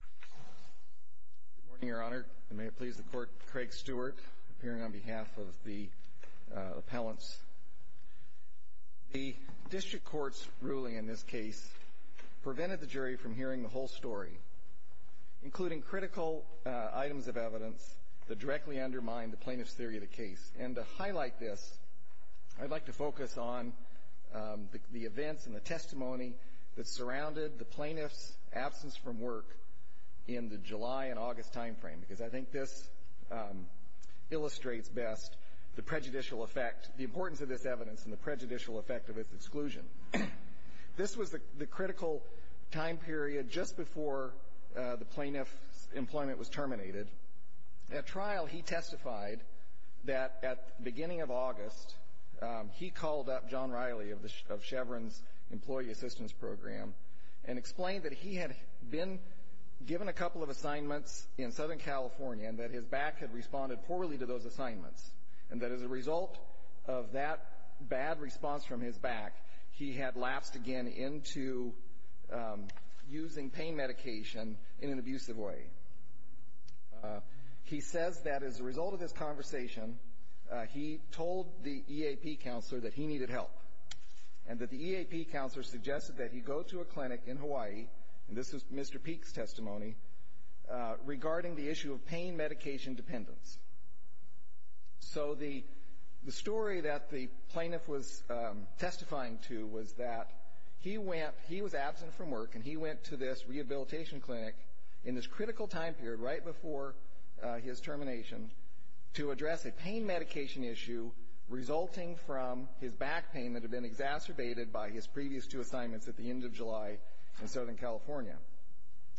Good morning, Your Honor, and may it please the Court, Craig Stewart, appearing on behalf of the appellants. The District Court's ruling in this case prevented the jury from hearing the whole story, including critical items of evidence that directly undermine the plaintiff's theory of the case. And to highlight this, I'd like to focus on the events and the testimony that surrounded the plaintiff's absence from work in the July and August time frame, because I think this illustrates best the prejudicial effect, the importance of this evidence and the prejudicial effect of its exclusion. This was the critical time period just before the plaintiff's employment was terminated. At trial, he testified that at the beginning of August, he called up John Riley of Chevron's Employee Assistance Program, and explained that he had been given a couple of assignments in Southern California, and that his back had responded poorly to those assignments, and that as a result of that bad response from his back, he had lapsed again into using pain medication in an abusive way. He says that as a result of this conversation, he told the EAP counselor that he needed help, and that the EAP counselor suggested that he go to a clinic in Hawaii, and this is Mr. Peek's testimony, regarding the issue of pain medication dependence. So the story that the plaintiff was testifying to was that he went, he was absent from work, and he went to this rehabilitation clinic in this critical time period, right before his termination, to address a pain medication issue resulting from his back pain that had been exacerbated by his previous two assignments at the end of July in Southern California.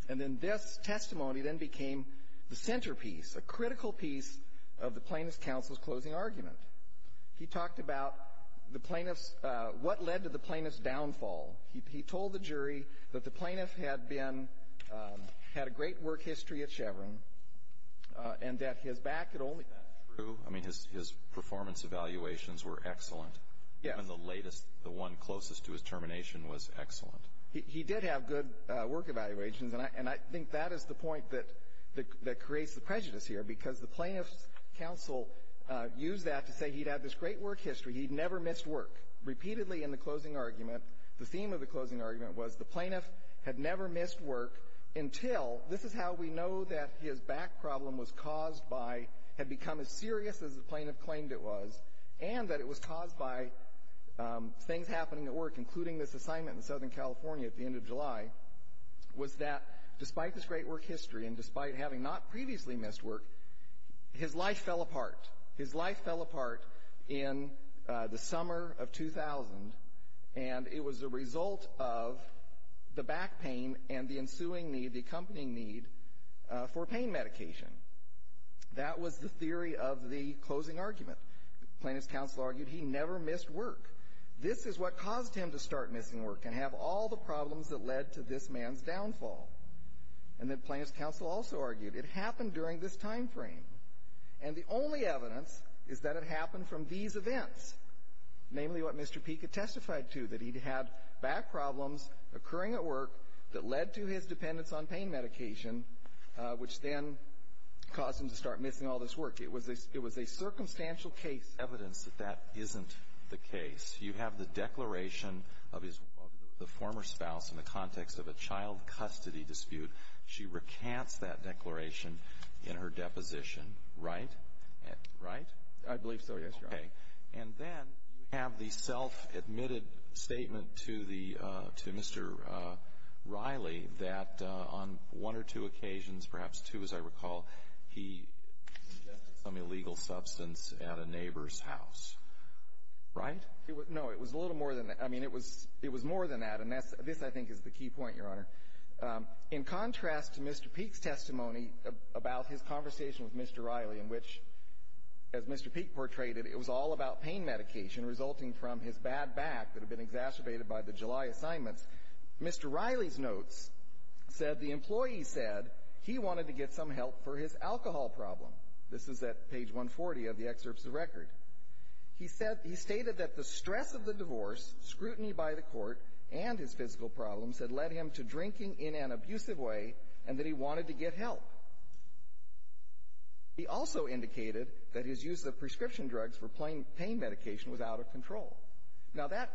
And then this testimony then became the centerpiece, a critical piece of the plaintiff's counsel's closing argument. He talked about the plaintiff's, what led to the plaintiff's downfall. He told the jury that the plaintiff had been, had a great work history at Chevron, and that his back had only Is that true? I mean, his performance evaluations were excellent. Yes. And the latest, the one closest to his termination was excellent. He did have good work evaluations, and I think that is the point that creates the prejudice here, because the plaintiff's counsel used that to say he'd had this great work history, he'd never missed work. Repeatedly in the closing argument, the theme of the closing argument was the plaintiff had never missed work until, this is how we know that his back problem was caused by, had become as serious as the plaintiff claimed it was, and that it was caused by things happening at work, including this assignment in Southern California at the end of July, was that despite this great work history, and despite having not previously missed work, his life fell apart. His life fell apart in the summer of 2000, and it was a result of the back pain and the ensuing need, the accompanying need, for pain medication. That was the theory of the closing argument. Plaintiff's counsel argued he never missed work. This is what caused him to start missing work, and have all the problems that led to this man's downfall. And the plaintiff's counsel also argued it happened during this time frame, and the only evidence is that it happened from these events, namely what Mr. Peek had testified to, that he'd had back problems occurring at work that led to his dependence on pain medication, which then caused him to start missing all this work. It was a, it was a circumstantial case. Evidence that that isn't the case. You have the declaration of his, of the former spouse in the context of a child custody dispute. She recants that declaration in her deposition, right? Right? I believe so, yes, Your Honor. Okay. And then you have the self-admitted statement to the, to Mr. Riley that on one or two occasions, perhaps two as I recall, he ingested some illegal substance at a neighbor's house. Right? No, it was a little more than that. I mean, it was, it was more than that, and that's, this I think is the key point, Your Honor. In contrast to Mr. Peek's testimony about his conversation with Mr. Riley, in which, as Mr. Peek portrayed it, it was all about pain medication resulting from his bad back that had been exacerbated by the July assignments, Mr. Riley's notes said, the employee said he wanted to get some help for his alcohol problem. This is at page 140 of the excerpts of the record. He said, he stated that the stress of the divorce, scrutiny by the court, and his physical problems had led him to drinking in an abusive way, and that he wanted to get help. He also indicated that his use of prescription drugs for pain medication was out of control. Now, that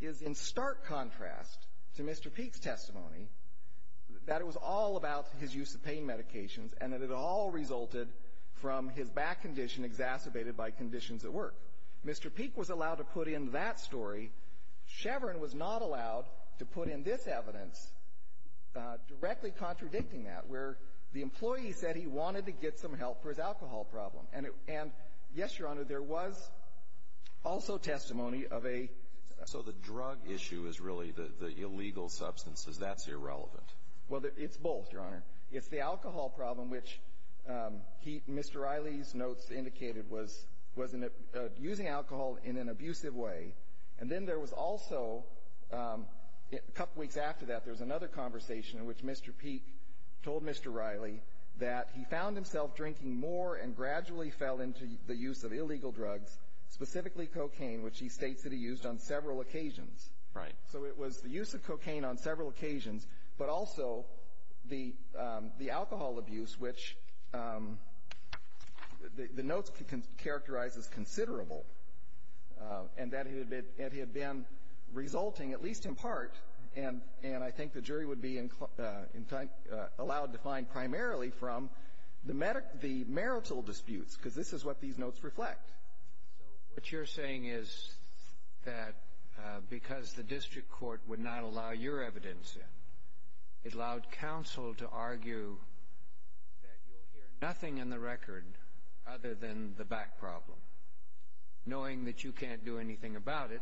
is in stark contrast to Mr. Peek's testimony, that it was all about his use of pain medications, and that it all resulted from his back condition exacerbated by conditions at work. Mr. Peek was allowed to put in that story. Chevron was not allowed to put in this evidence, directly contradicting that, where the employee said he wanted to get some help for his alcohol problem. And yes, Your Honor, there was also testimony of a- So the drug issue is really the illegal substances, that's irrelevant. Well, it's both, Your Honor. It's the alcohol problem, which Mr. Riley's notes indicated was using alcohol in an abusive way. And then there was also, a couple weeks after that, there was another conversation in which Mr. Peek told Mr. Riley that he found himself drinking more and gradually fell into the use of illegal drugs, specifically cocaine, which he states that he used on several occasions. Right. So it was the use of cocaine on several occasions, but also the alcohol abuse, which the notes characterize as considerable, and that it had been resulting, at least in part, and I think the jury would be allowed to find primarily from the marital disputes, because this is what these notes reflect. So what you're saying is that because the district court would not allow your evidence in, it allowed counsel to argue that you'll hear nothing in the record other than the back problem, knowing that you can't do anything about it,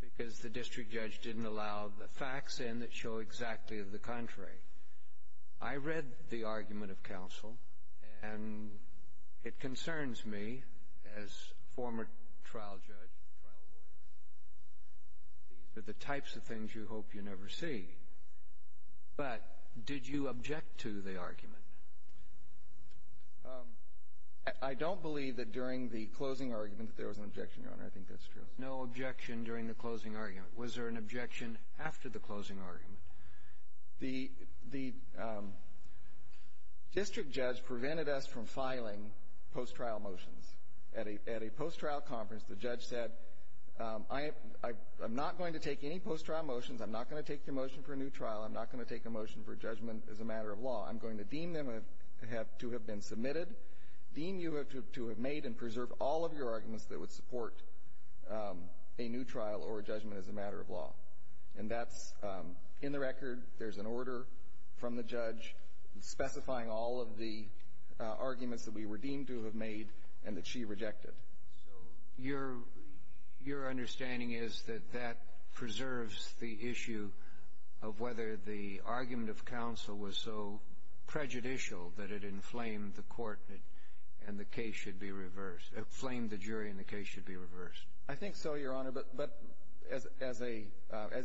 because the district judge didn't allow the facts in that show exactly the contrary. I read the argument of counsel, and it concerns me as former trial judge, trial lawyer, these are the types of things you hope you never see, but did you object to the argument? I don't believe that during the closing argument that there was an objection, Your Honor. I think that's true. No objection during the closing argument. Was there an objection after the closing argument? The district judge prevented us from filing post-trial motions. At a post-trial conference, the judge said, I'm not going to take any post-trial motions. I'm not going to take your motion for a new trial. I'm not going to take a motion for judgment as a matter of law. I'm going to deem them to have been submitted, deem you to have made and preserved all of your arguments that would support a new trial or a judgment as a matter of law. And that's in the record. There's an order from the judge specifying all of the arguments that we were deemed to have made, and that she rejected. So your understanding is that that preserves the issue of whether the argument of counsel was so prejudicial that it inflamed the court and the case should be reversed, it flamed the jury and the case should be reversed? I think so, Your Honor. But as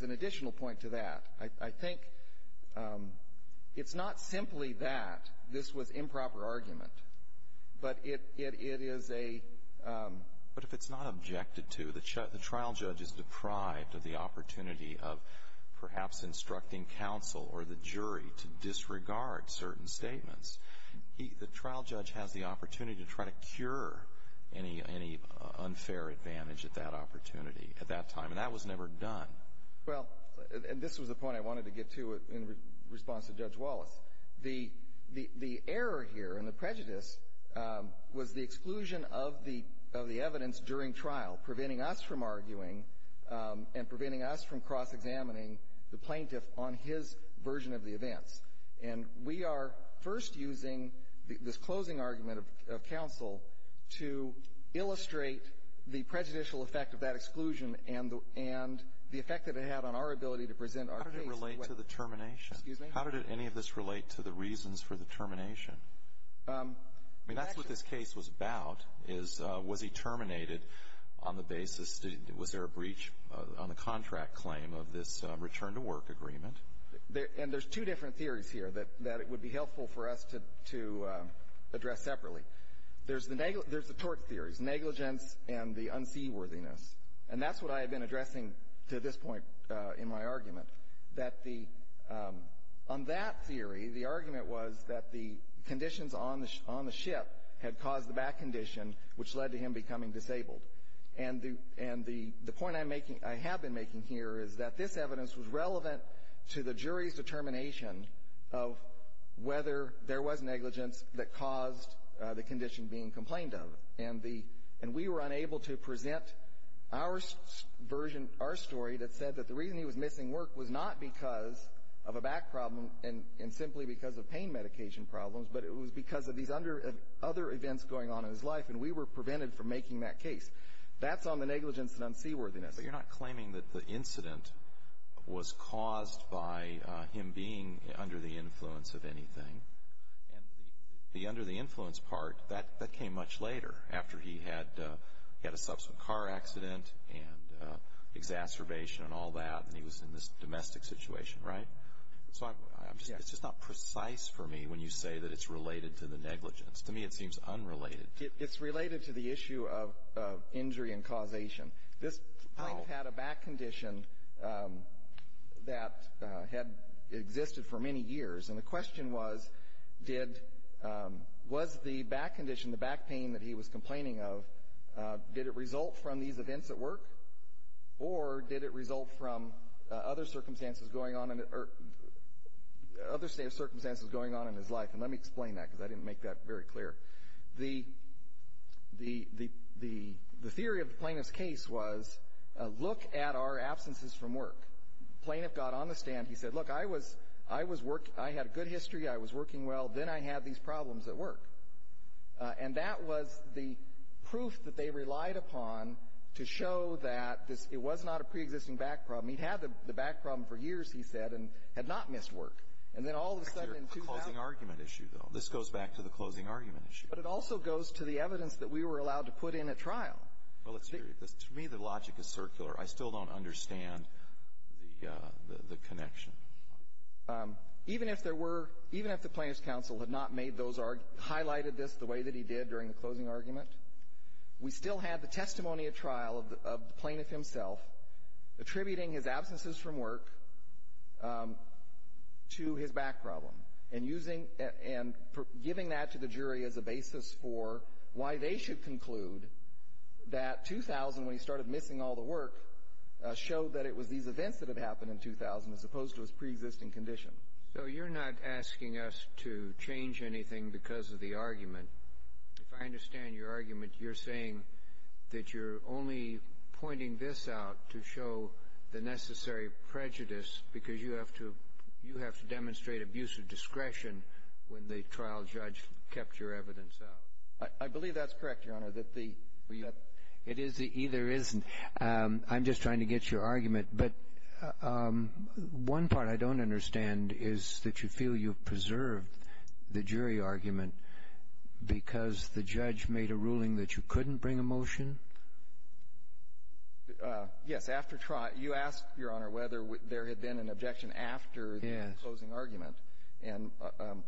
an additional point to that, I think it's not simply that this was improper argument, but it is a But if it's not objected to, the trial judge is deprived of the opportunity of perhaps instructing counsel or the jury to disregard certain statements. The trial judge has the opportunity to try to cure any unfair advantage at that opportunity at that time, and that was never done. Well, and this was the point I wanted to get to in response to Judge Wallace. The error here and the prejudice was the exclusion of the evidence during trial, preventing us from arguing and preventing us from cross-examining the plaintiff on his version of the events. And we are first using this closing argument of counsel to illustrate the prejudicial effect of that exclusion and the effect that it had on our ability to present our case. How did it relate to the termination? Excuse me? How did any of this relate to the reasons for the termination? I mean, that's what this case was about, is was he terminated on the basis, was there a breach on the contract claim of this return to work agreement? And there's two different theories here that it would be helpful for us to address separately. There's the tort theories, negligence and the unseaworthiness. And that's what I have been addressing to this point in my argument, that the, on that theory, the argument was that the conditions on the ship had caused the back condition, which led to him becoming disabled. And the point I have been making here is that this evidence was relevant to the jury's determination of whether there was negligence that caused the condition being complained of. And we were unable to present our story that said that the reason he was missing work was not because of a back problem and simply because of pain medication problems, but it was because of these other events going on in his life, and we were prevented from making that case. That's on the negligence and unseaworthiness. But you're not claiming that the incident was caused by him being under the influence of anything. And the under the influence part, that came much later, after he had a subsequent car accident and exacerbation and all that, and he was in this domestic situation, right? So I'm just, it's just not precise for me when you say that it's related to the negligence. To me, it seems unrelated. It's related to the issue of injury and causation. This client had a back condition that had existed for many years. And the question was, did, was the back condition, the back pain that he was complaining of, did it result from these events at work, or did it result from other circumstances going on in, or other circumstances going on in his life? And let me explain that, because I didn't make that very clear. The, the, the, the theory of the plaintiff's case was, look at our absences from work. Plaintiff got on the stand. He said, look, I was, I was work, I had a good history. I was working well. Then I had these problems at work. And that was the proof that they relied upon to show that this, it was not a preexisting back problem. He'd had the, the back problem for years, he said, and had not missed work. And then all of a sudden, in two hours. It's your closing argument issue, though. This goes back to the closing argument issue. But it also goes to the evidence that we were allowed to put in at trial. Well, let's hear you. This, to me, the logic is circular. I still don't understand the, the, the connection. Even if there were, even if the plaintiff's counsel had not made those, highlighted this the way that he did during the closing argument, we still had the testimony at trial of the, of the plaintiff himself attributing his absences from work to his back problem. And using, and giving that to the jury as a basis for why they should conclude that 2000, when he started missing all the work, showed that it was these events that had happened in 2000, as opposed to his preexisting condition. So you're not asking us to change anything because of the argument. If I understand your argument, you're saying that you're only pointing this out to show the necessary prejudice, because you have to, you have to demonstrate abusive discretion when the trial judge kept your evidence out. I, I believe that's correct, Your Honor. That the, that the ---- It is, it either is. I'm just trying to get your argument. But one part I don't understand is that you feel you've preserved the jury argument because the judge made a ruling that you couldn't bring a motion? Yes. After trial, you asked, Your Honor, whether there had been an objection after the closing argument. Yes. And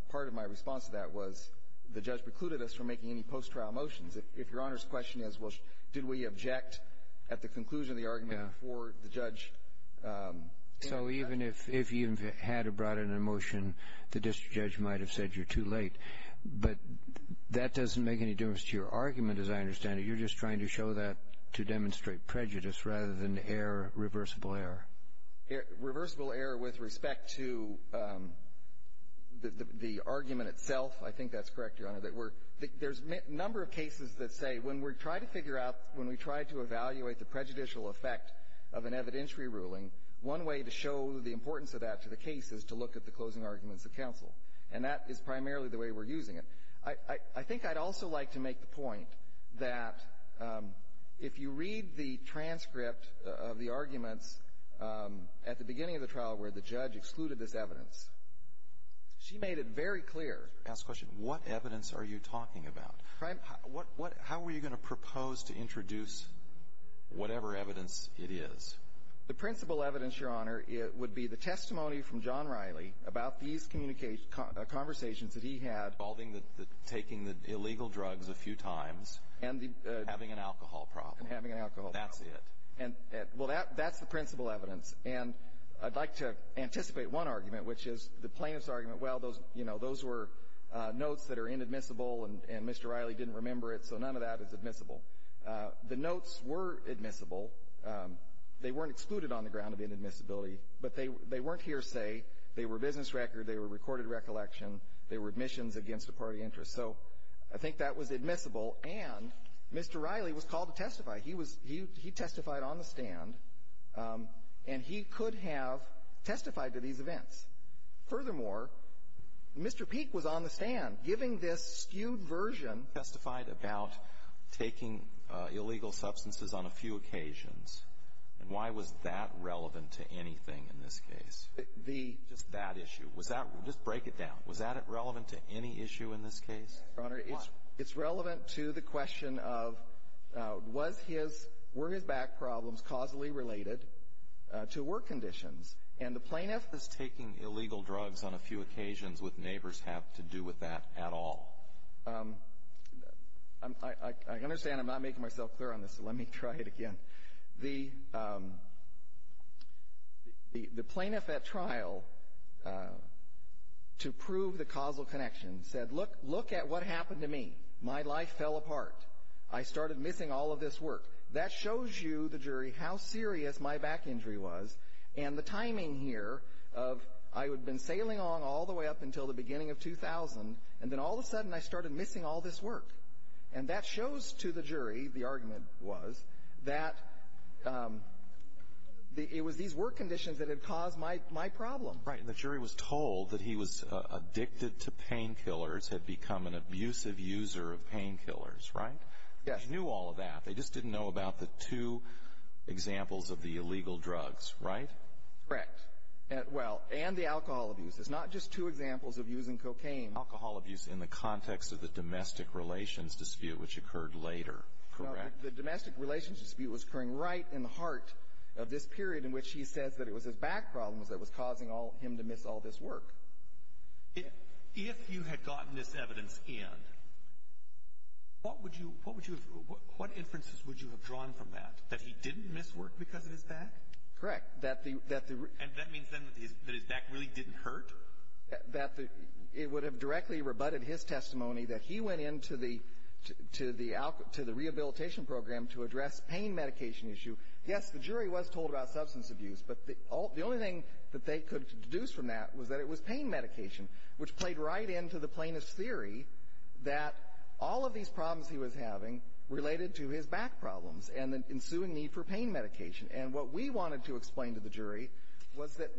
part of my response to that was the judge precluded us from making any post-trial motions. If, if Your Honor's question is, well, did we object at the conclusion of the argument before the judge ---- So even if, if you had brought in a motion, the district judge might have said you're too late. But that doesn't make any difference to your argument, as I understand it. You're just trying to show that to demonstrate prejudice, rather than error, reversible error. Reversible error with respect to the, the argument itself. I think that's correct, Your Honor. That we're, there's a number of cases that say when we're trying to figure out, when we try to evaluate the prejudicial effect of an evidentiary ruling, one way to show the importance of that to the case is to look at the closing arguments of counsel. And that is primarily the way we're using it. I, I think I'd also like to make the point that if you read the transcript of the arguments at the beginning of the trial where the judge excluded this evidence, she made it very clear. Ask the question, what evidence are you talking about? How are you going to propose to introduce whatever evidence it is? The principal evidence, Your Honor, it would be the testimony from John Riley about these communication, conversations that he had. Involving the, taking the illegal drugs a few times. And the. Having an alcohol problem. And having an alcohol problem. That's it. And, well, that's the principal evidence. And I'd like to anticipate one argument, which is the plaintiff's argument. Well, those, you know, those were notes that are inadmissible and Mr. Riley didn't remember it, so none of that is admissible. The notes were admissible. They weren't excluded on the ground of inadmissibility. But they weren't hearsay. They were business record. They were recorded recollection. They were admissions against a party interest. So I think that was admissible. And Mr. Riley was called to testify. He was, he testified on the stand. And he could have testified to these events. Furthermore, Mr. Peek was on the stand giving this skewed version. Testified about taking illegal substances on a few occasions. And why was that relevant to anything in this case? The. Just that issue. Was that, just break it down. Was that relevant to any issue in this case? Yes, Your Honor. Why? It's relevant to the question of was his, were his back problems causally related to work conditions? And the plaintiff. Is taking illegal drugs on a few occasions with neighbors have to do with that at all? I understand I'm not making myself clear on this, so let me try it again. The plaintiff at trial to prove the causal connection said, look at what's going on in this case. What happened to me? My life fell apart. I started missing all of this work. That shows you, the jury, how serious my back injury was. And the timing here of, I had been sailing on all the way up until the beginning of 2000. And then all of a sudden I started missing all this work. And that shows to the jury, the argument was, that it was these work conditions that had caused my problem. Right. And the jury was told that he was addicted to painkillers, had become an abusive user of painkillers, right? Yes. Knew all of that. They just didn't know about the two examples of the illegal drugs, right? Correct. Well, and the alcohol abuse. It's not just two examples of using cocaine. Alcohol abuse in the context of the domestic relations dispute, which occurred later, correct? The domestic relations dispute was occurring right in the heart of this period in which he says that it was his back problems that was causing him to miss all this work. If you had gotten this evidence in, what inferences would you have drawn from that? That he didn't miss work because of his back? Correct. And that means then that his back really didn't hurt? That it would have directly rebutted his testimony that he went into the rehabilitation program to address pain medication issue. Yes, the jury was told about substance abuse. But the only thing that they could deduce from that was that it was pain medication, which played right into the plaintiff's theory that all of these problems he was having related to his back problems and the ensuing need for pain medication. And what we wanted to explain to the jury was that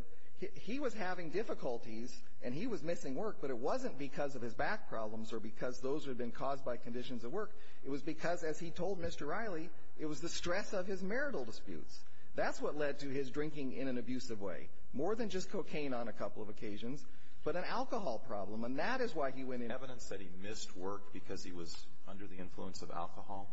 he was having difficulties and he was missing work. But it wasn't because of his back problems or because those had been caused by conditions of work. It was because, as he told Mr. Riley, it was the stress of his marital disputes. That's what led to his drinking in an abusive way. More than just cocaine on a couple of occasions, but an alcohol problem. And that is why he went in. Evidence that he missed work because he was under the influence of alcohol?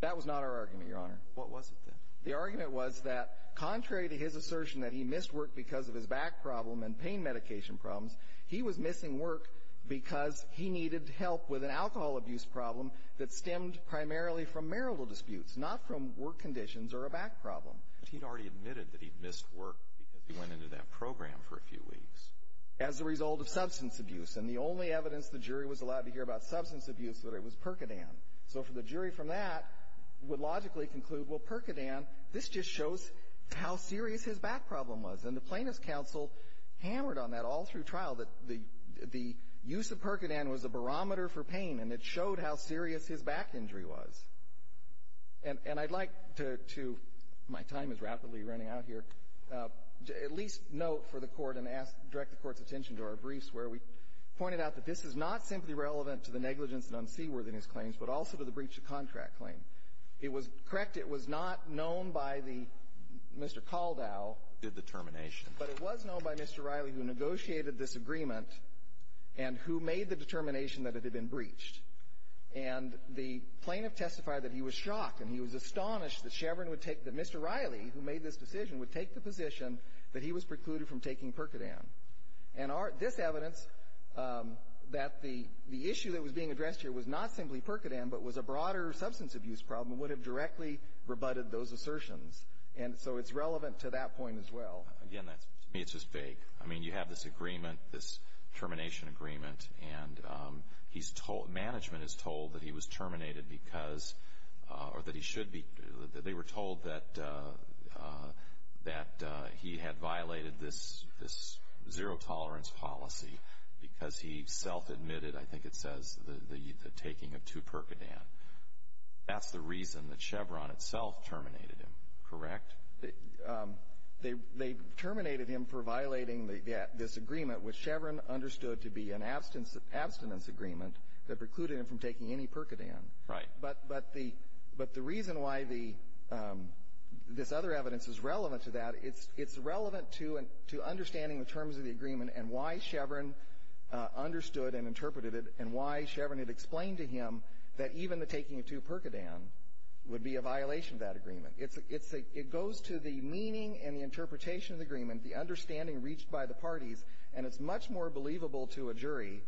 That was not our argument, Your Honor. What was it then? The argument was that, contrary to his assertion that he missed work because of his back problem and pain medication problems, he was missing work because he needed help with an alcohol abuse problem that stemmed primarily from marital disputes, not from work conditions or a back problem. But he had already admitted that he missed work because he went into that program for a few weeks. As a result of substance abuse. And the only evidence the jury was allowed to hear about substance abuse was that it was Percodan. So the jury from that would logically conclude, well, Percodan, this just shows how serious his back problem was. And the plaintiff's counsel hammered on that all through trial, that the use of Percodan was a barometer for pain. And it showed how serious his back injury was. And I'd like to, my time is rapidly running out here, at least note for the Court and direct the Court's attention to our briefs where we pointed out that this is not simply relevant to the negligence and unseaworthiness claims, but also to the breach of contract claim. It was, correct, it was not known by the, Mr. Kaldow. Good determination. But it was known by Mr. Riley who negotiated this agreement and who made the determination that it had been breached. And the plaintiff testified that he was shocked and he was astonished that Chevron would take, that Mr. Riley, who made this decision, would take the position that he was precluded from taking Percodan. And this evidence, that the issue that was being addressed here was not simply Percodan, but was a broader substance abuse problem, would have directly rebutted those assertions. And so it's relevant to that point as well. Again, that's, to me it's just vague. I mean, you have this agreement, this termination agreement, and he's told, management is told that he was terminated because, or that he should be, they were told that he had violated this zero tolerance policy because he self-admitted, I think it says, the taking of two Percodan. That's the reason that Chevron itself terminated him, correct? They terminated him for violating this agreement, which Chevron understood to be an abstinence agreement that precluded him from taking any Percodan. Right. But the reason why this other evidence is relevant to that, it's relevant to understanding the terms of the agreement and why Chevron understood and interpreted it, and why Chevron had explained to him that even the taking of two Percodan would be a violation of that agreement. It's a, it's a, it goes to the meaning and the interpretation of the agreement, the understanding reached by the parties, and it's much more believable to a jury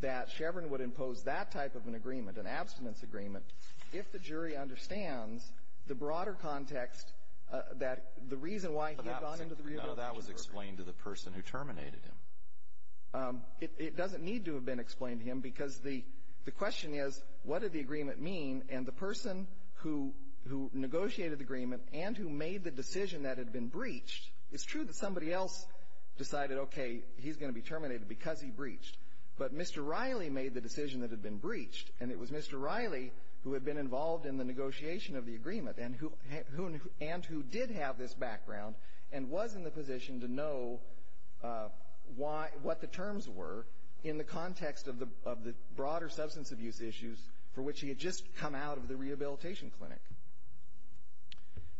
that Chevron would impose that type of an agreement, an abstinence agreement, if the jury understands the broader context that the reason why he had gone into the view of the jury. But that was explained to the person who terminated him. It doesn't need to have been explained to him, because the question is, what did the agreement mean? And the person who negotiated the agreement and who made the decision that had been breached, it's true that somebody else decided, okay, he's going to be terminated because he breached. But Mr. Riley made the decision that had been breached, and it was Mr. Riley who had been involved in the negotiation of the agreement, and who, and who did have this background, and was in the position to know why, what the terms were in the context of the, of the broader substance abuse issues for which he had just come out of the rehabilitation clinic.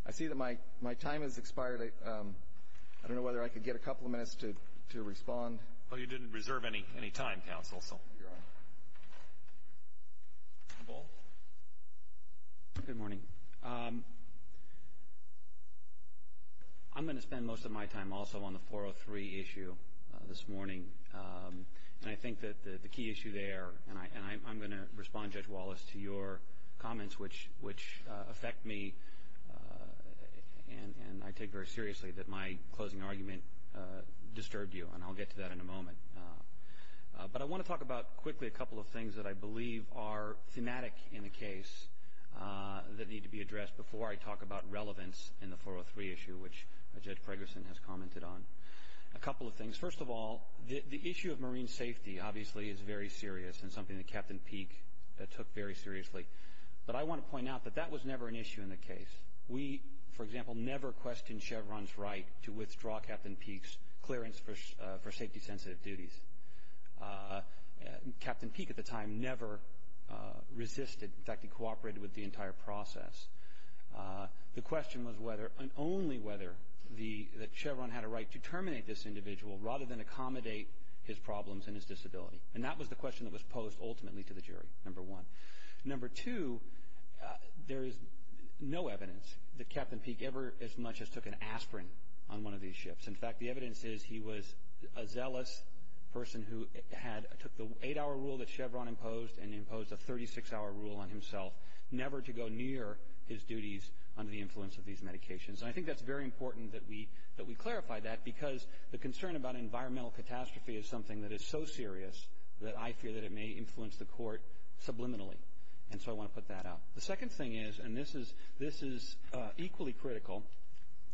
I see that my, my time has expired. I don't know whether I could get a couple of minutes to, to respond. Well, you didn't reserve any, any time, counsel, so. You're on. Good morning. I'm going to spend most of my time also on the 403 issue this morning. And I think that the, the key issue there, and I, and I, I'm going to respond, Judge Wallace, to your comments, which, which affect me. And, and I take very seriously that my closing argument disturbed you, and I'll get to that in a moment. But I want to talk about, quickly, a couple of things that I believe are thematic in the case that need to be addressed before I talk about relevance in the 403 issue, which Judge Fragerson has commented on. A couple of things. First of all, the, the issue of marine safety, obviously, is very serious, and something that Captain Peek took very seriously. But I want to point out that that was never an issue in the case. We, for example, never questioned Chevron's right to withdraw Captain Peek's clearance for, for safety-sensitive duties. Captain Peek, at the time, never resisted. In fact, he cooperated with the entire process. The question was whether, and only whether, the, that Chevron had a right to terminate this individual rather than accommodate his problems and his disability. And that was the question that was posed, ultimately, to the jury, number one. Number two, there is no evidence that Captain Peek ever as much as took an aspirin on one of these ships. In fact, the evidence is he was a zealous person who had, took the eight-hour rule that Chevron imposed and imposed a 36-hour rule on himself, never to go near his duties under the influence of these medications. And I think that's very important that we, that we clarify that, because the concern about environmental catastrophe is something that is so serious that I fear that it may influence the court subliminally. And so I want to put that out. The second thing is, and this is, this is equally critical,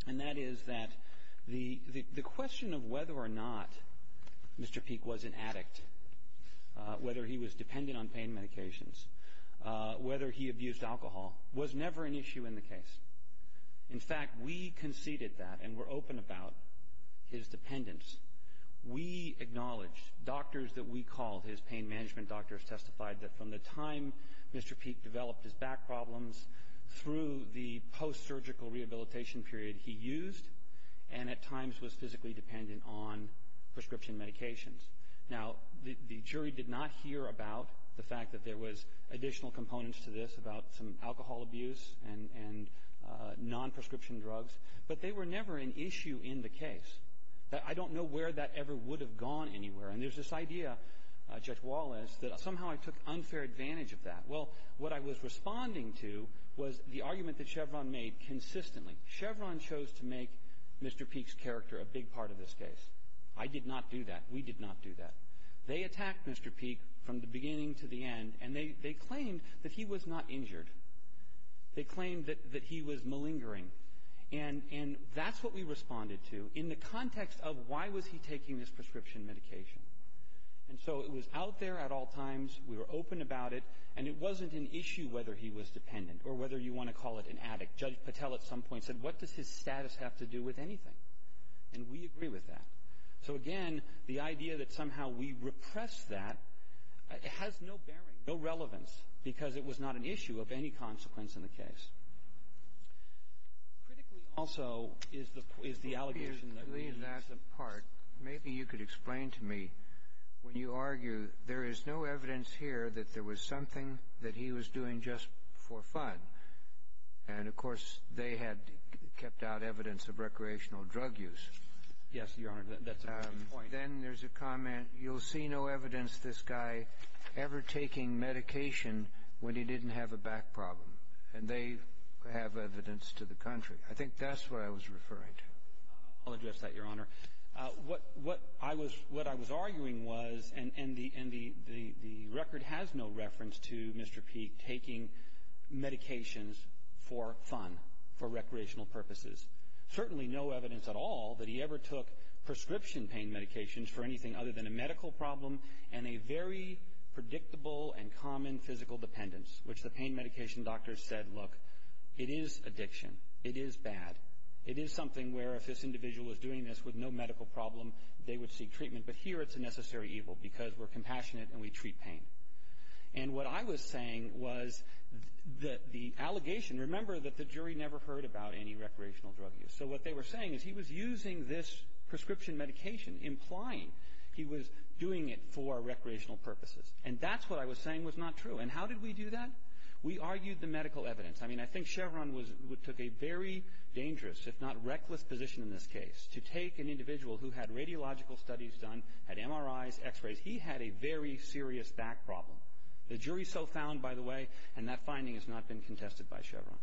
and that is that the, the, the question of whether or not Mr. Peek was an addict, whether he was dependent on pain medications, whether he abused alcohol, was never an issue in the case. In fact, we conceded that and were open about his dependence. We acknowledged, doctors that we called, his pain management doctors, testified that from the time Mr. Peek developed his back problems through the post-surgical rehabilitation period, he used and at times was physically dependent on prescription medications. Now, the, the jury did not hear about the fact that there was additional components to this about some alcohol abuse and, and non-prescription drugs, but they were never an issue in the case. I don't know where that ever would have gone anywhere. And there's this idea, Judge Wallace, that somehow I took unfair advantage of that. Well, what I was responding to was the argument that Chevron made consistently. Chevron chose to make Mr. Peek's character a big part of this case. I did not do that. We did not do that. They attacked Mr. Peek from the beginning to the end, and they, they claimed that he was not injured. They claimed that, that he was malingering. And, and that's what we responded to in the context of why was he taking this prescription medication. And so it was out there at all times, we were open about it, and it wasn't an issue whether he was dependent or whether you want to call it an addict. Judge Patel at some point said, what does his status have to do with anything? And we agree with that. So again, the idea that somehow we repress that has no bearing, no relevance, because it was not an issue of any consequence in the case. Critically also is the, is the allegation that we used to. In that part, maybe you could explain to me, when you argue, there is no evidence here that there was something that he was doing just for fun. And of course, they had kept out evidence of recreational drug use. Yes, Your Honor, that's a good point. Then there's a comment, you'll see no evidence this guy ever taking medication when he didn't have a back problem. And they have evidence to the country. I think that's what I was referring to. I'll address that, Your Honor. What, what I was, what I was arguing was, and, and the, and the, the, the record has no reference to Mr. Peek taking medications for fun, for recreational purposes. Certainly no evidence at all that he ever took prescription pain medications for anything other than a medical problem and a very predictable and common physical dependence. Which the pain medication doctors said, look, it is addiction. It is bad. It is something where if this individual is doing this with no medical problem, they would seek treatment. But here it's a necessary evil because we're compassionate and we treat pain. And what I was saying was that the allegation, and remember that the jury never heard about any recreational drug use. So what they were saying is he was using this prescription medication, implying he was doing it for recreational purposes. And that's what I was saying was not true. And how did we do that? We argued the medical evidence. I mean, I think Chevron was, took a very dangerous, if not reckless, position in this case. To take an individual who had radiological studies done, had MRIs, x-rays, he had a very serious back problem. The jury so found, by the way, and that finding has not been contested by Chevron.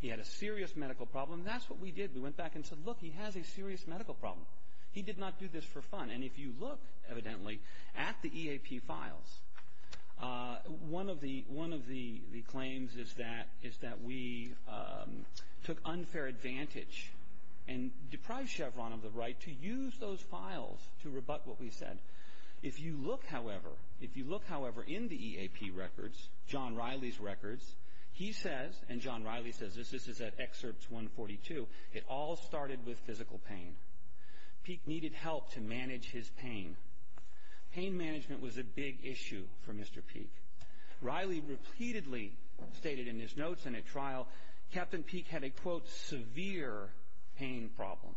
He had a serious medical problem. That's what we did. We went back and said, look, he has a serious medical problem. He did not do this for fun. And if you look, evidently, at the EAP files, one of the claims is that we took unfair advantage. And deprived Chevron of the right to use those files to rebut what we said. If you look, however, if you look, however, in the EAP records, John Riley's records, he says, and John Riley says this, this is at excerpts 142, it all started with physical pain. Peek needed help to manage his pain. Pain management was a big issue for Mr. Peek. Riley repeatedly stated in his notes and at trial, Captain Peek had a, quote, severe pain problem.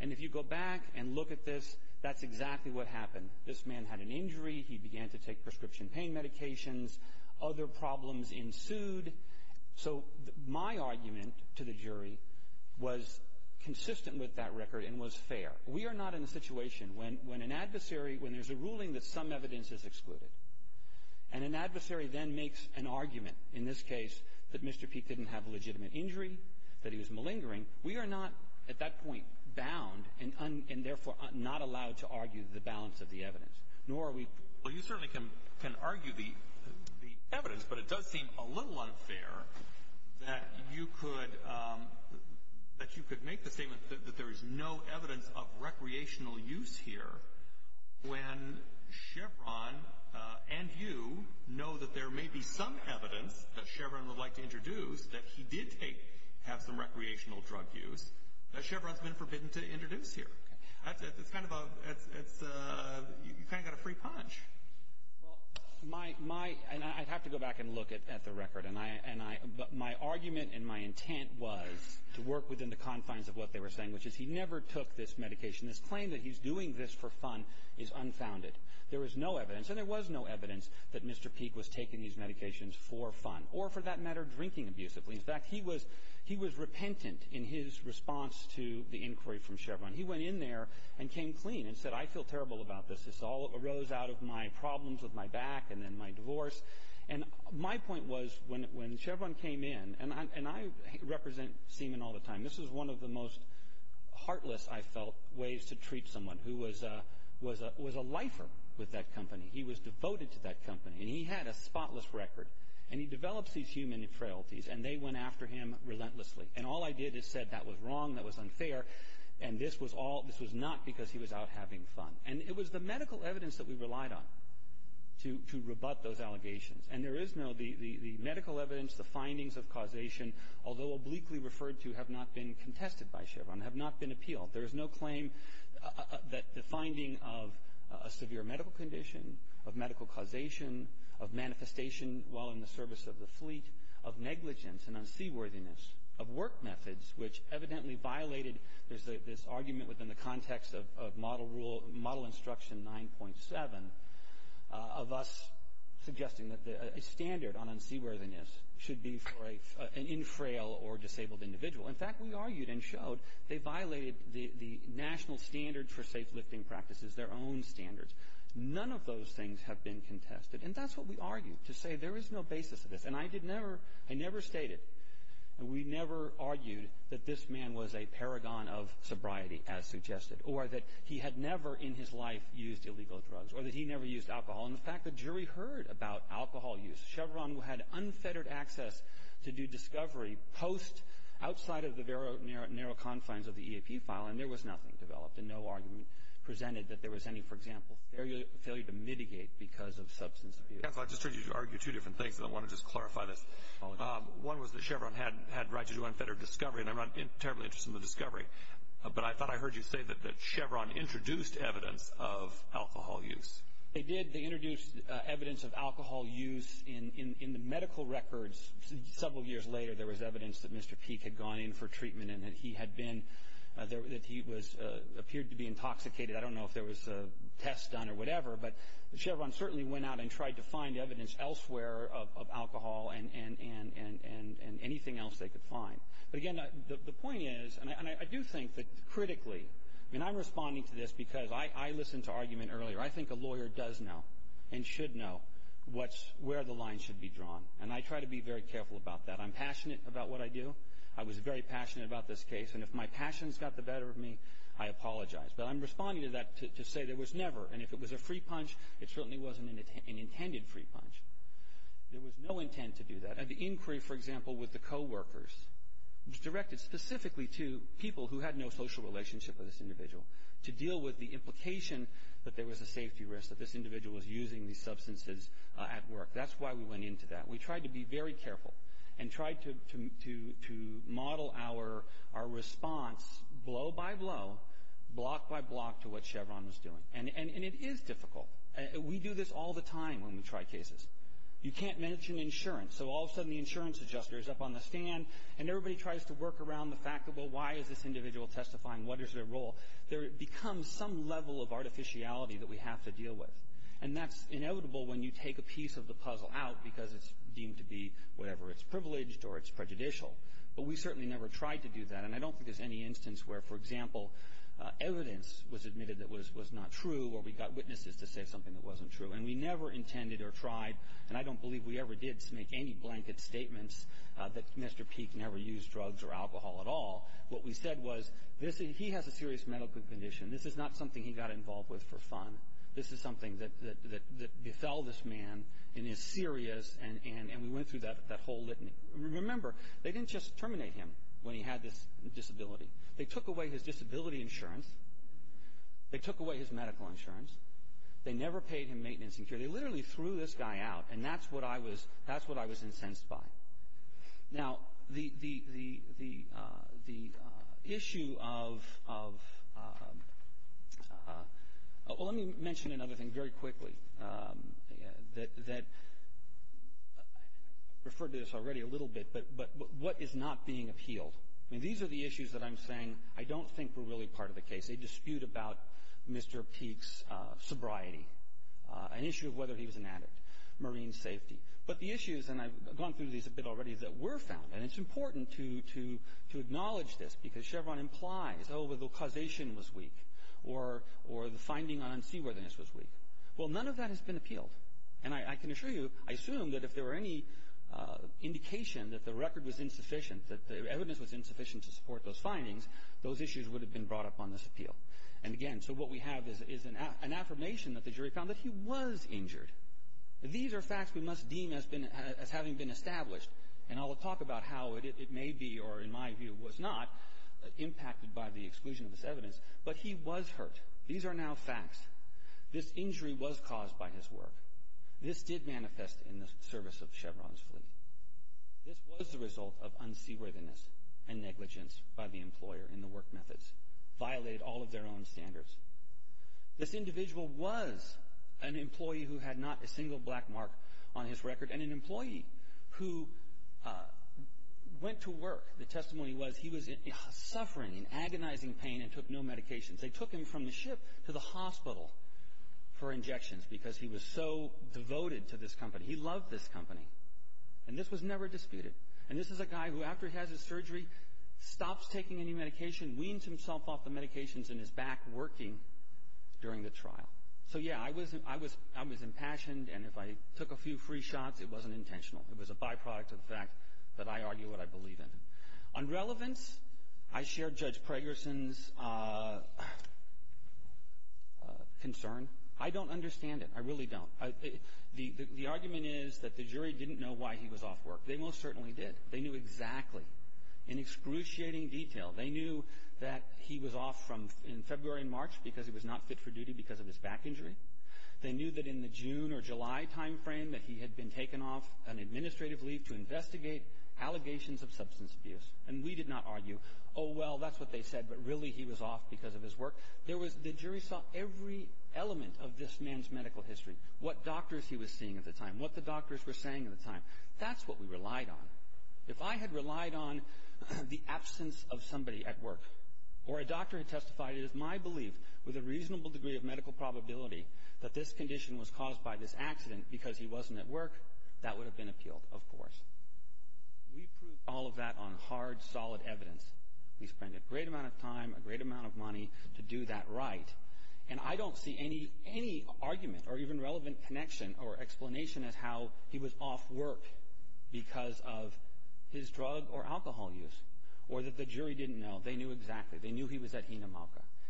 And if you go back and look at this, that's exactly what happened. This man had an injury. He began to take prescription pain medications. Other problems ensued. So my argument to the jury was consistent with that record and was fair. We are not in a situation when an adversary, when there's a ruling that some evidence is excluded, and an adversary then makes an argument, in this case, that Mr. Peek didn't have a legitimate injury, that he was malingering, we are not, at that point, bound and therefore not allowed to argue the balance of the evidence, nor are we. Well, you certainly can argue the evidence, but it does seem a little unfair that you could make the statement that there is no evidence of recreational use here when Chevron and you know that there may be some evidence that Chevron would like to introduce that he did take, have some recreational drug use, that Chevron's been forbidden to introduce here. It's kind of a, it's a, you kind of got a free punch. Well, my, my, and I'd have to go back and look at the record, and I, and I, but my argument and my intent was to work within the confines of what they were saying, which is he never took this medication. This claim that he's doing this for fun is unfounded. There is no evidence, and there was no evidence, that Mr. Peek was taking these medications for fun, or for that matter, drinking abusively. In fact, he was, he was repentant in his response to the inquiry from Chevron. He went in there and came clean and said, I feel terrible about this. This all arose out of my problems with my back and then my divorce. And my point was, when, when Chevron came in, and I, and I represent semen all the time. This was one of the most heartless, I felt, ways to treat someone who was a, was a, was a lifer with that company. He was devoted to that company, and he had a spotless record. And he develops these human frailties, and they went after him relentlessly. And all I did is said that was wrong, that was unfair, and this was all, this was not because he was out having fun. And it was the medical evidence that we relied on to, to rebut those allegations. And there is no, the, the, the medical evidence, the findings of causation, although obliquely referred to, have not been contested by Chevron, have not been appealed. There is no claim that the finding of a severe medical condition, of medical causation, of manifestation while in the service of the fleet, of negligence and unseaworthiness, of work methods, which evidently violated, there's a, this argument within the context of, of model rule, model instruction 9.7, of us suggesting that the, a standard on unseaworthiness should be for a, an infrail or disabled individual. In fact, we argued and showed they violated the, the national standard for safe lifting practices, their own standards. None of those things have been contested. And that's what we argued, to say there is no basis to this. And I did never, I never stated, and we never argued that this man was a paragon of sobriety, as suggested, or that he had never in his life used illegal drugs, or that he never used alcohol. And the fact the jury heard about alcohol use, Chevron had unfettered access to do discovery post, outside of the very narrow, narrow confines of the EAP file, and there was nothing developed. And no argument presented that there was any, for example, failure, failure to mitigate because of substance abuse. Counsel, I just heard you argue two different things, and I want to just clarify this. One was that Chevron had, had right to do unfettered discovery, and I'm not terribly interested in the discovery. But I thought I heard you say that, that Chevron introduced evidence of alcohol use. They did. They introduced evidence of alcohol use in, in, in the medical records. Several years later, there was evidence that Mr. Peek had gone in for treatment, and that he had been, that he was, appeared to be intoxicated. I don't know if there was a test done or whatever, but Chevron certainly went out and tried to find evidence elsewhere of, of alcohol and, and, and, and, and anything else they could find. But again, the, the point is, and I, and I do think that critically, and I'm responding to this because I, I listened to argument earlier, I think a lawyer does know, and should know, what's, where the line should be drawn. And I try to be very careful about that. I'm passionate about what I do. I was very passionate about this case, and if my passions got the better of me, I apologize. But I'm responding to that to, to say there was never, and if it was a free punch, it certainly wasn't an, an intended free punch. There was no intent to do that. And the inquiry, for example, with the coworkers, was directed specifically to people who had no social relationship with this individual, to deal with the implication that there was a safety risk, that this individual was using these substances at work. That's why we went into that. We tried to be very careful, and tried to, to, to, to model our, our response blow by blow, block by block, to what Chevron was doing. And, and, and it is difficult. We do this all the time when we try cases. You can't mention insurance. So all of a sudden, the insurance adjuster is up on the stand, and everybody tries to work around the fact that, well, why is this individual testifying? What is their role? There becomes some level of artificiality that we have to deal with. And that's inevitable when you take a piece of the puzzle out, because it's deemed to be whatever, it's privileged, or it's prejudicial. But we certainly never tried to do that. And I don't think there's any instance where, for example, evidence was admitted that was, was not true, or we got witnesses to say something that wasn't true. And we never intended or tried, and I don't believe we ever did make any blanket statements that Mr. Peek never used drugs or alcohol at all. What we said was, this, he has a serious medical condition. This is not something he got involved with for fun. This is something that, that, that befell this man, and is serious. And, and, and we went through that, that whole litany. Remember, they didn't just terminate him when he had this disability. They took away his disability insurance. They took away his medical insurance. They never paid him maintenance and care. They literally threw this guy out, and that's what I was, that's what I was incensed by. Now, the, the, the, the, the issue of, of, well, let me mention another thing very quickly. That, that, I referred to this already a little bit, but, but, but what is not being appealed? I mean, these are the issues that I'm saying I don't think were really part of the case. They dispute about Mr. Peek's sobriety. An issue of whether he was an addict. Marine safety. But the issues, and I've gone through these a bit already, that were found, and it's important to, to, to acknowledge this, because Chevron implies, oh, the causation was weak. Or, or the finding on seaworthiness was weak. Well, none of that has been appealed. And I, I can assure you, I assume that if there were any indication that the record was insufficient, that the evidence was insufficient to support those findings, those issues would have been brought up on this appeal. And again, so what we have is, is an affirmation that the jury found that he was injured. These are facts we must deem as been, as having been established. And I'll talk about how it, it may be, or in my view was not, impacted by the exclusion of this evidence. But he was hurt. These are now facts. This injury was caused by his work. This did manifest in the service of Chevron's fleet. This was the result of unseaworthiness and negligence by the employer in the work methods. Violated all of their own standards. This individual was an employee who had not a single black mark on his record. And an employee who went to work. The testimony was, he was in suffering, in agonizing pain, and took no medications. They took him from the ship to the hospital for injections, because he was so devoted to this company. He loved this company. And this was never disputed. And this is a guy who, after he has his surgery, stops taking any medication, weans himself off the medications in his back, working during the trial. So yeah, I was, I was, I was impassioned, and if I took a few free shots, it wasn't intentional. It was a byproduct of the fact that I argue what I believe in. On relevance, I share Judge Pregerson's concern. I don't understand it. I really don't. The argument is that the jury didn't know why he was off work. They most certainly did. They knew exactly, in excruciating detail. They knew that he was off from, in February and March, because he was not fit for duty because of his back injury. They knew that in the June or July time frame that he had been taken off an administrative leave to investigate allegations of substance abuse. And we did not argue, oh well, that's what they said, but really he was off because of his work. There was, the jury saw every element of this man's medical history. What doctors he was seeing at the time. What the doctors were saying at the time. That's what we relied on. If I had relied on the absence of somebody at work, or a doctor had testified, it is my belief, with a reasonable degree of medical probability, that this condition was caused by this accident because he wasn't at work, that would have been appealed, of course. We proved all of that on hard, solid evidence. We spent a great amount of time, a great amount of money, to do that right. And I don't see any argument, or even relevant connection, or explanation, as how he was off work because of his drug or alcohol use. Or that the jury didn't know. They knew exactly.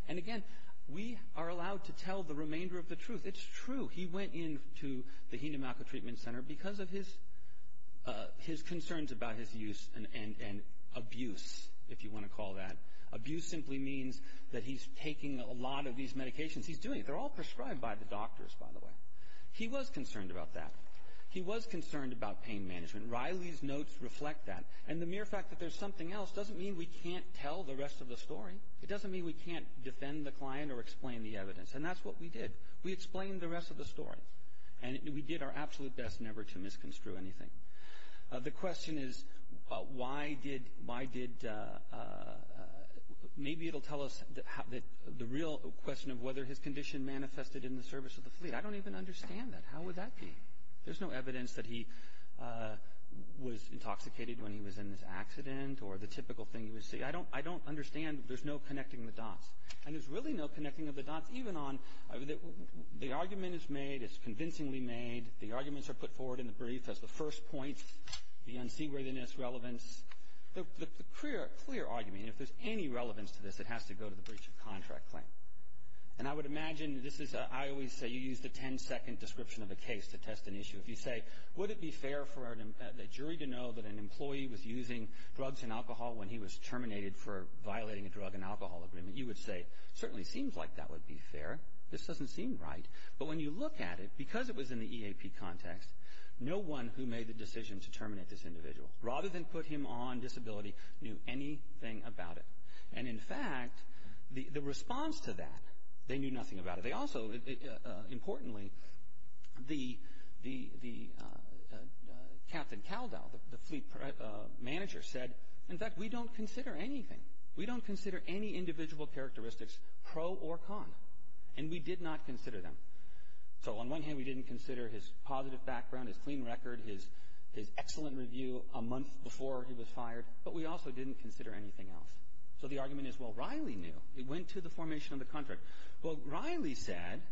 And again, we are allowed to tell the remainder of the truth. It's true. He went into the Hidemako Treatment Center because of his concerns about his use and abuse, if you want to call that. Abuse simply means that he's taking a lot of these medications. He's doing it. They're all prescribed by the doctors, by the way. He was concerned about that. He was concerned about pain management. Riley's notes reflect that. And the mere fact that there's something else doesn't mean we can't tell the rest of the story. It doesn't mean we can't defend the client or explain the evidence. And that's what we did. We explained the rest of the story. And we did our absolute best never to misconstrue anything. The question is, why did, maybe it'll tell us the real question of whether his condition manifested in the service of the fleet. I don't even understand that. How would that be? There's no evidence that he was intoxicated when he was in this accident, or the typical thing you would see. I don't understand, there's no connecting the dots. And there's really no connecting of the dots, even on, the argument is made, it's convincingly made. The arguments are put forward in the brief as the first point, the unseaworthiness, relevance. The clear argument, if there's any relevance to this, it has to go to the breach of contract claim. And I would imagine, this is, I always say, you use the 10 second description of a case to test an issue. If you say, would it be fair for a jury to know that an employee was using drugs and alcohol when he was terminated for violating a drug and alcohol agreement, you would say, certainly seems like that would be fair. This doesn't seem right. But when you look at it, because it was in the EAP context, no one who made the decision to terminate this individual, rather than put him on disability, knew anything about it. And in fact, the response to that, they knew nothing about it. They also, importantly, the Captain Caldell, the fleet manager, said, in fact, we don't consider anything. We don't consider any individual characteristics pro or con. And we did not consider them. So on one hand, we didn't consider his positive background, his clean record, his excellent review a month before he was fired. But we also didn't consider anything else. So the argument is, well, Riley knew. It went to the formation of the contract. Well, Riley said,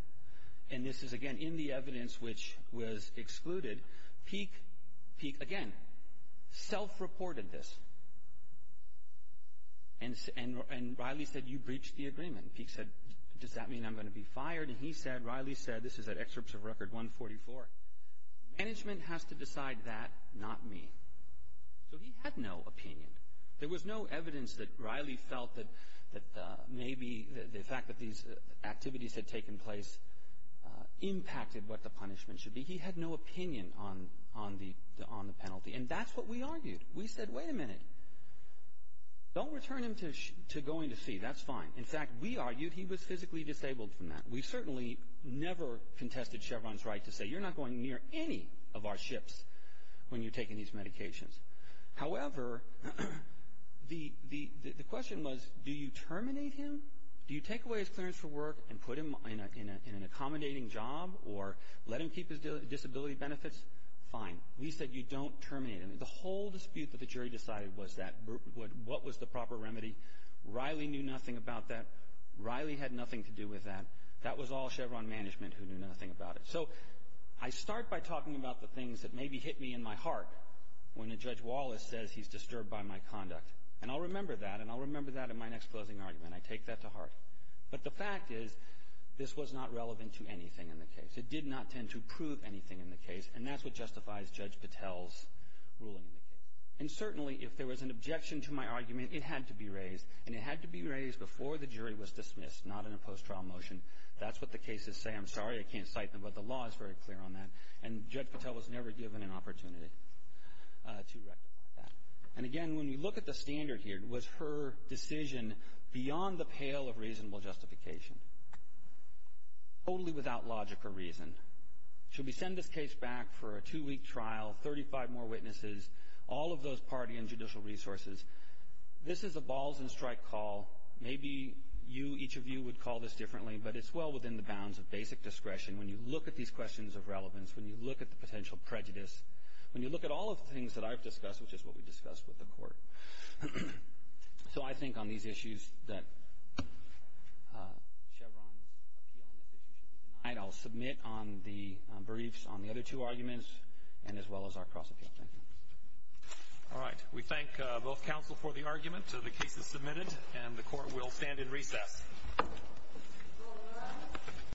and this is, again, in the evidence which was excluded, Peek, again, self-reported this. And Riley said, you breached the agreement. Peek said, does that mean I'm going to be fired? And he said, Riley said, this is at excerpts of record 144, management has to decide that, not me. So he had no opinion. There was no evidence that Riley felt that maybe the fact that these activities had taken place impacted what the punishment should be. He had no opinion on the penalty. And that's what we argued. We said, wait a minute, don't return him to going to sea. That's fine. In fact, we argued he was physically disabled from that. We certainly never contested Chevron's right to say, you're not going near any of our ships when you're taking these medications. However, the question was, do you terminate him? Do you take away his clearance for work and put him in an accommodating job or let him keep his disability benefits? Fine. We said, you don't terminate him. The whole dispute that the jury decided was that, what was the proper remedy? Riley knew nothing about that. Riley had nothing to do with that. That was all Chevron management who knew nothing about it. So I start by talking about the things that maybe hit me in my heart when a Judge Wallace says he's disturbed by my conduct. And I'll remember that, and I'll remember that in my next closing argument. I take that to heart. But the fact is, this was not relevant to anything in the case. It did not tend to prove anything in the case, and that's what justifies Judge Patel's ruling in the case. And certainly, if there was an objection to my argument, it had to be raised, and it had to be raised before the jury was dismissed, not in a post-trial motion. That's what the cases say. I'm sorry I can't cite them, but the law is very clear on that. And Judge Patel was never given an opportunity to rectify that. And again, when you look at the standard here, it was her decision beyond the pale of reasonable justification, totally without logic or reason. Should we send this case back for a two-week trial, 35 more witnesses, all of those party and judicial resources? This is a balls-and-strike call. Maybe you, each of you, would call this differently, but it's well within the bounds of basic discretion. When you look at these questions of relevance, when you look at the potential prejudice, when you look at all of the things that I've discussed, which is what we've discussed with the Court. So I think on these issues that Chevron's appeal on this issue should be denied. I'll submit on the briefs on the other two arguments, and as well as our cross-appeal, thank you. All right, we thank both counsel for the argument. The case is submitted, and the Court will stand in recess.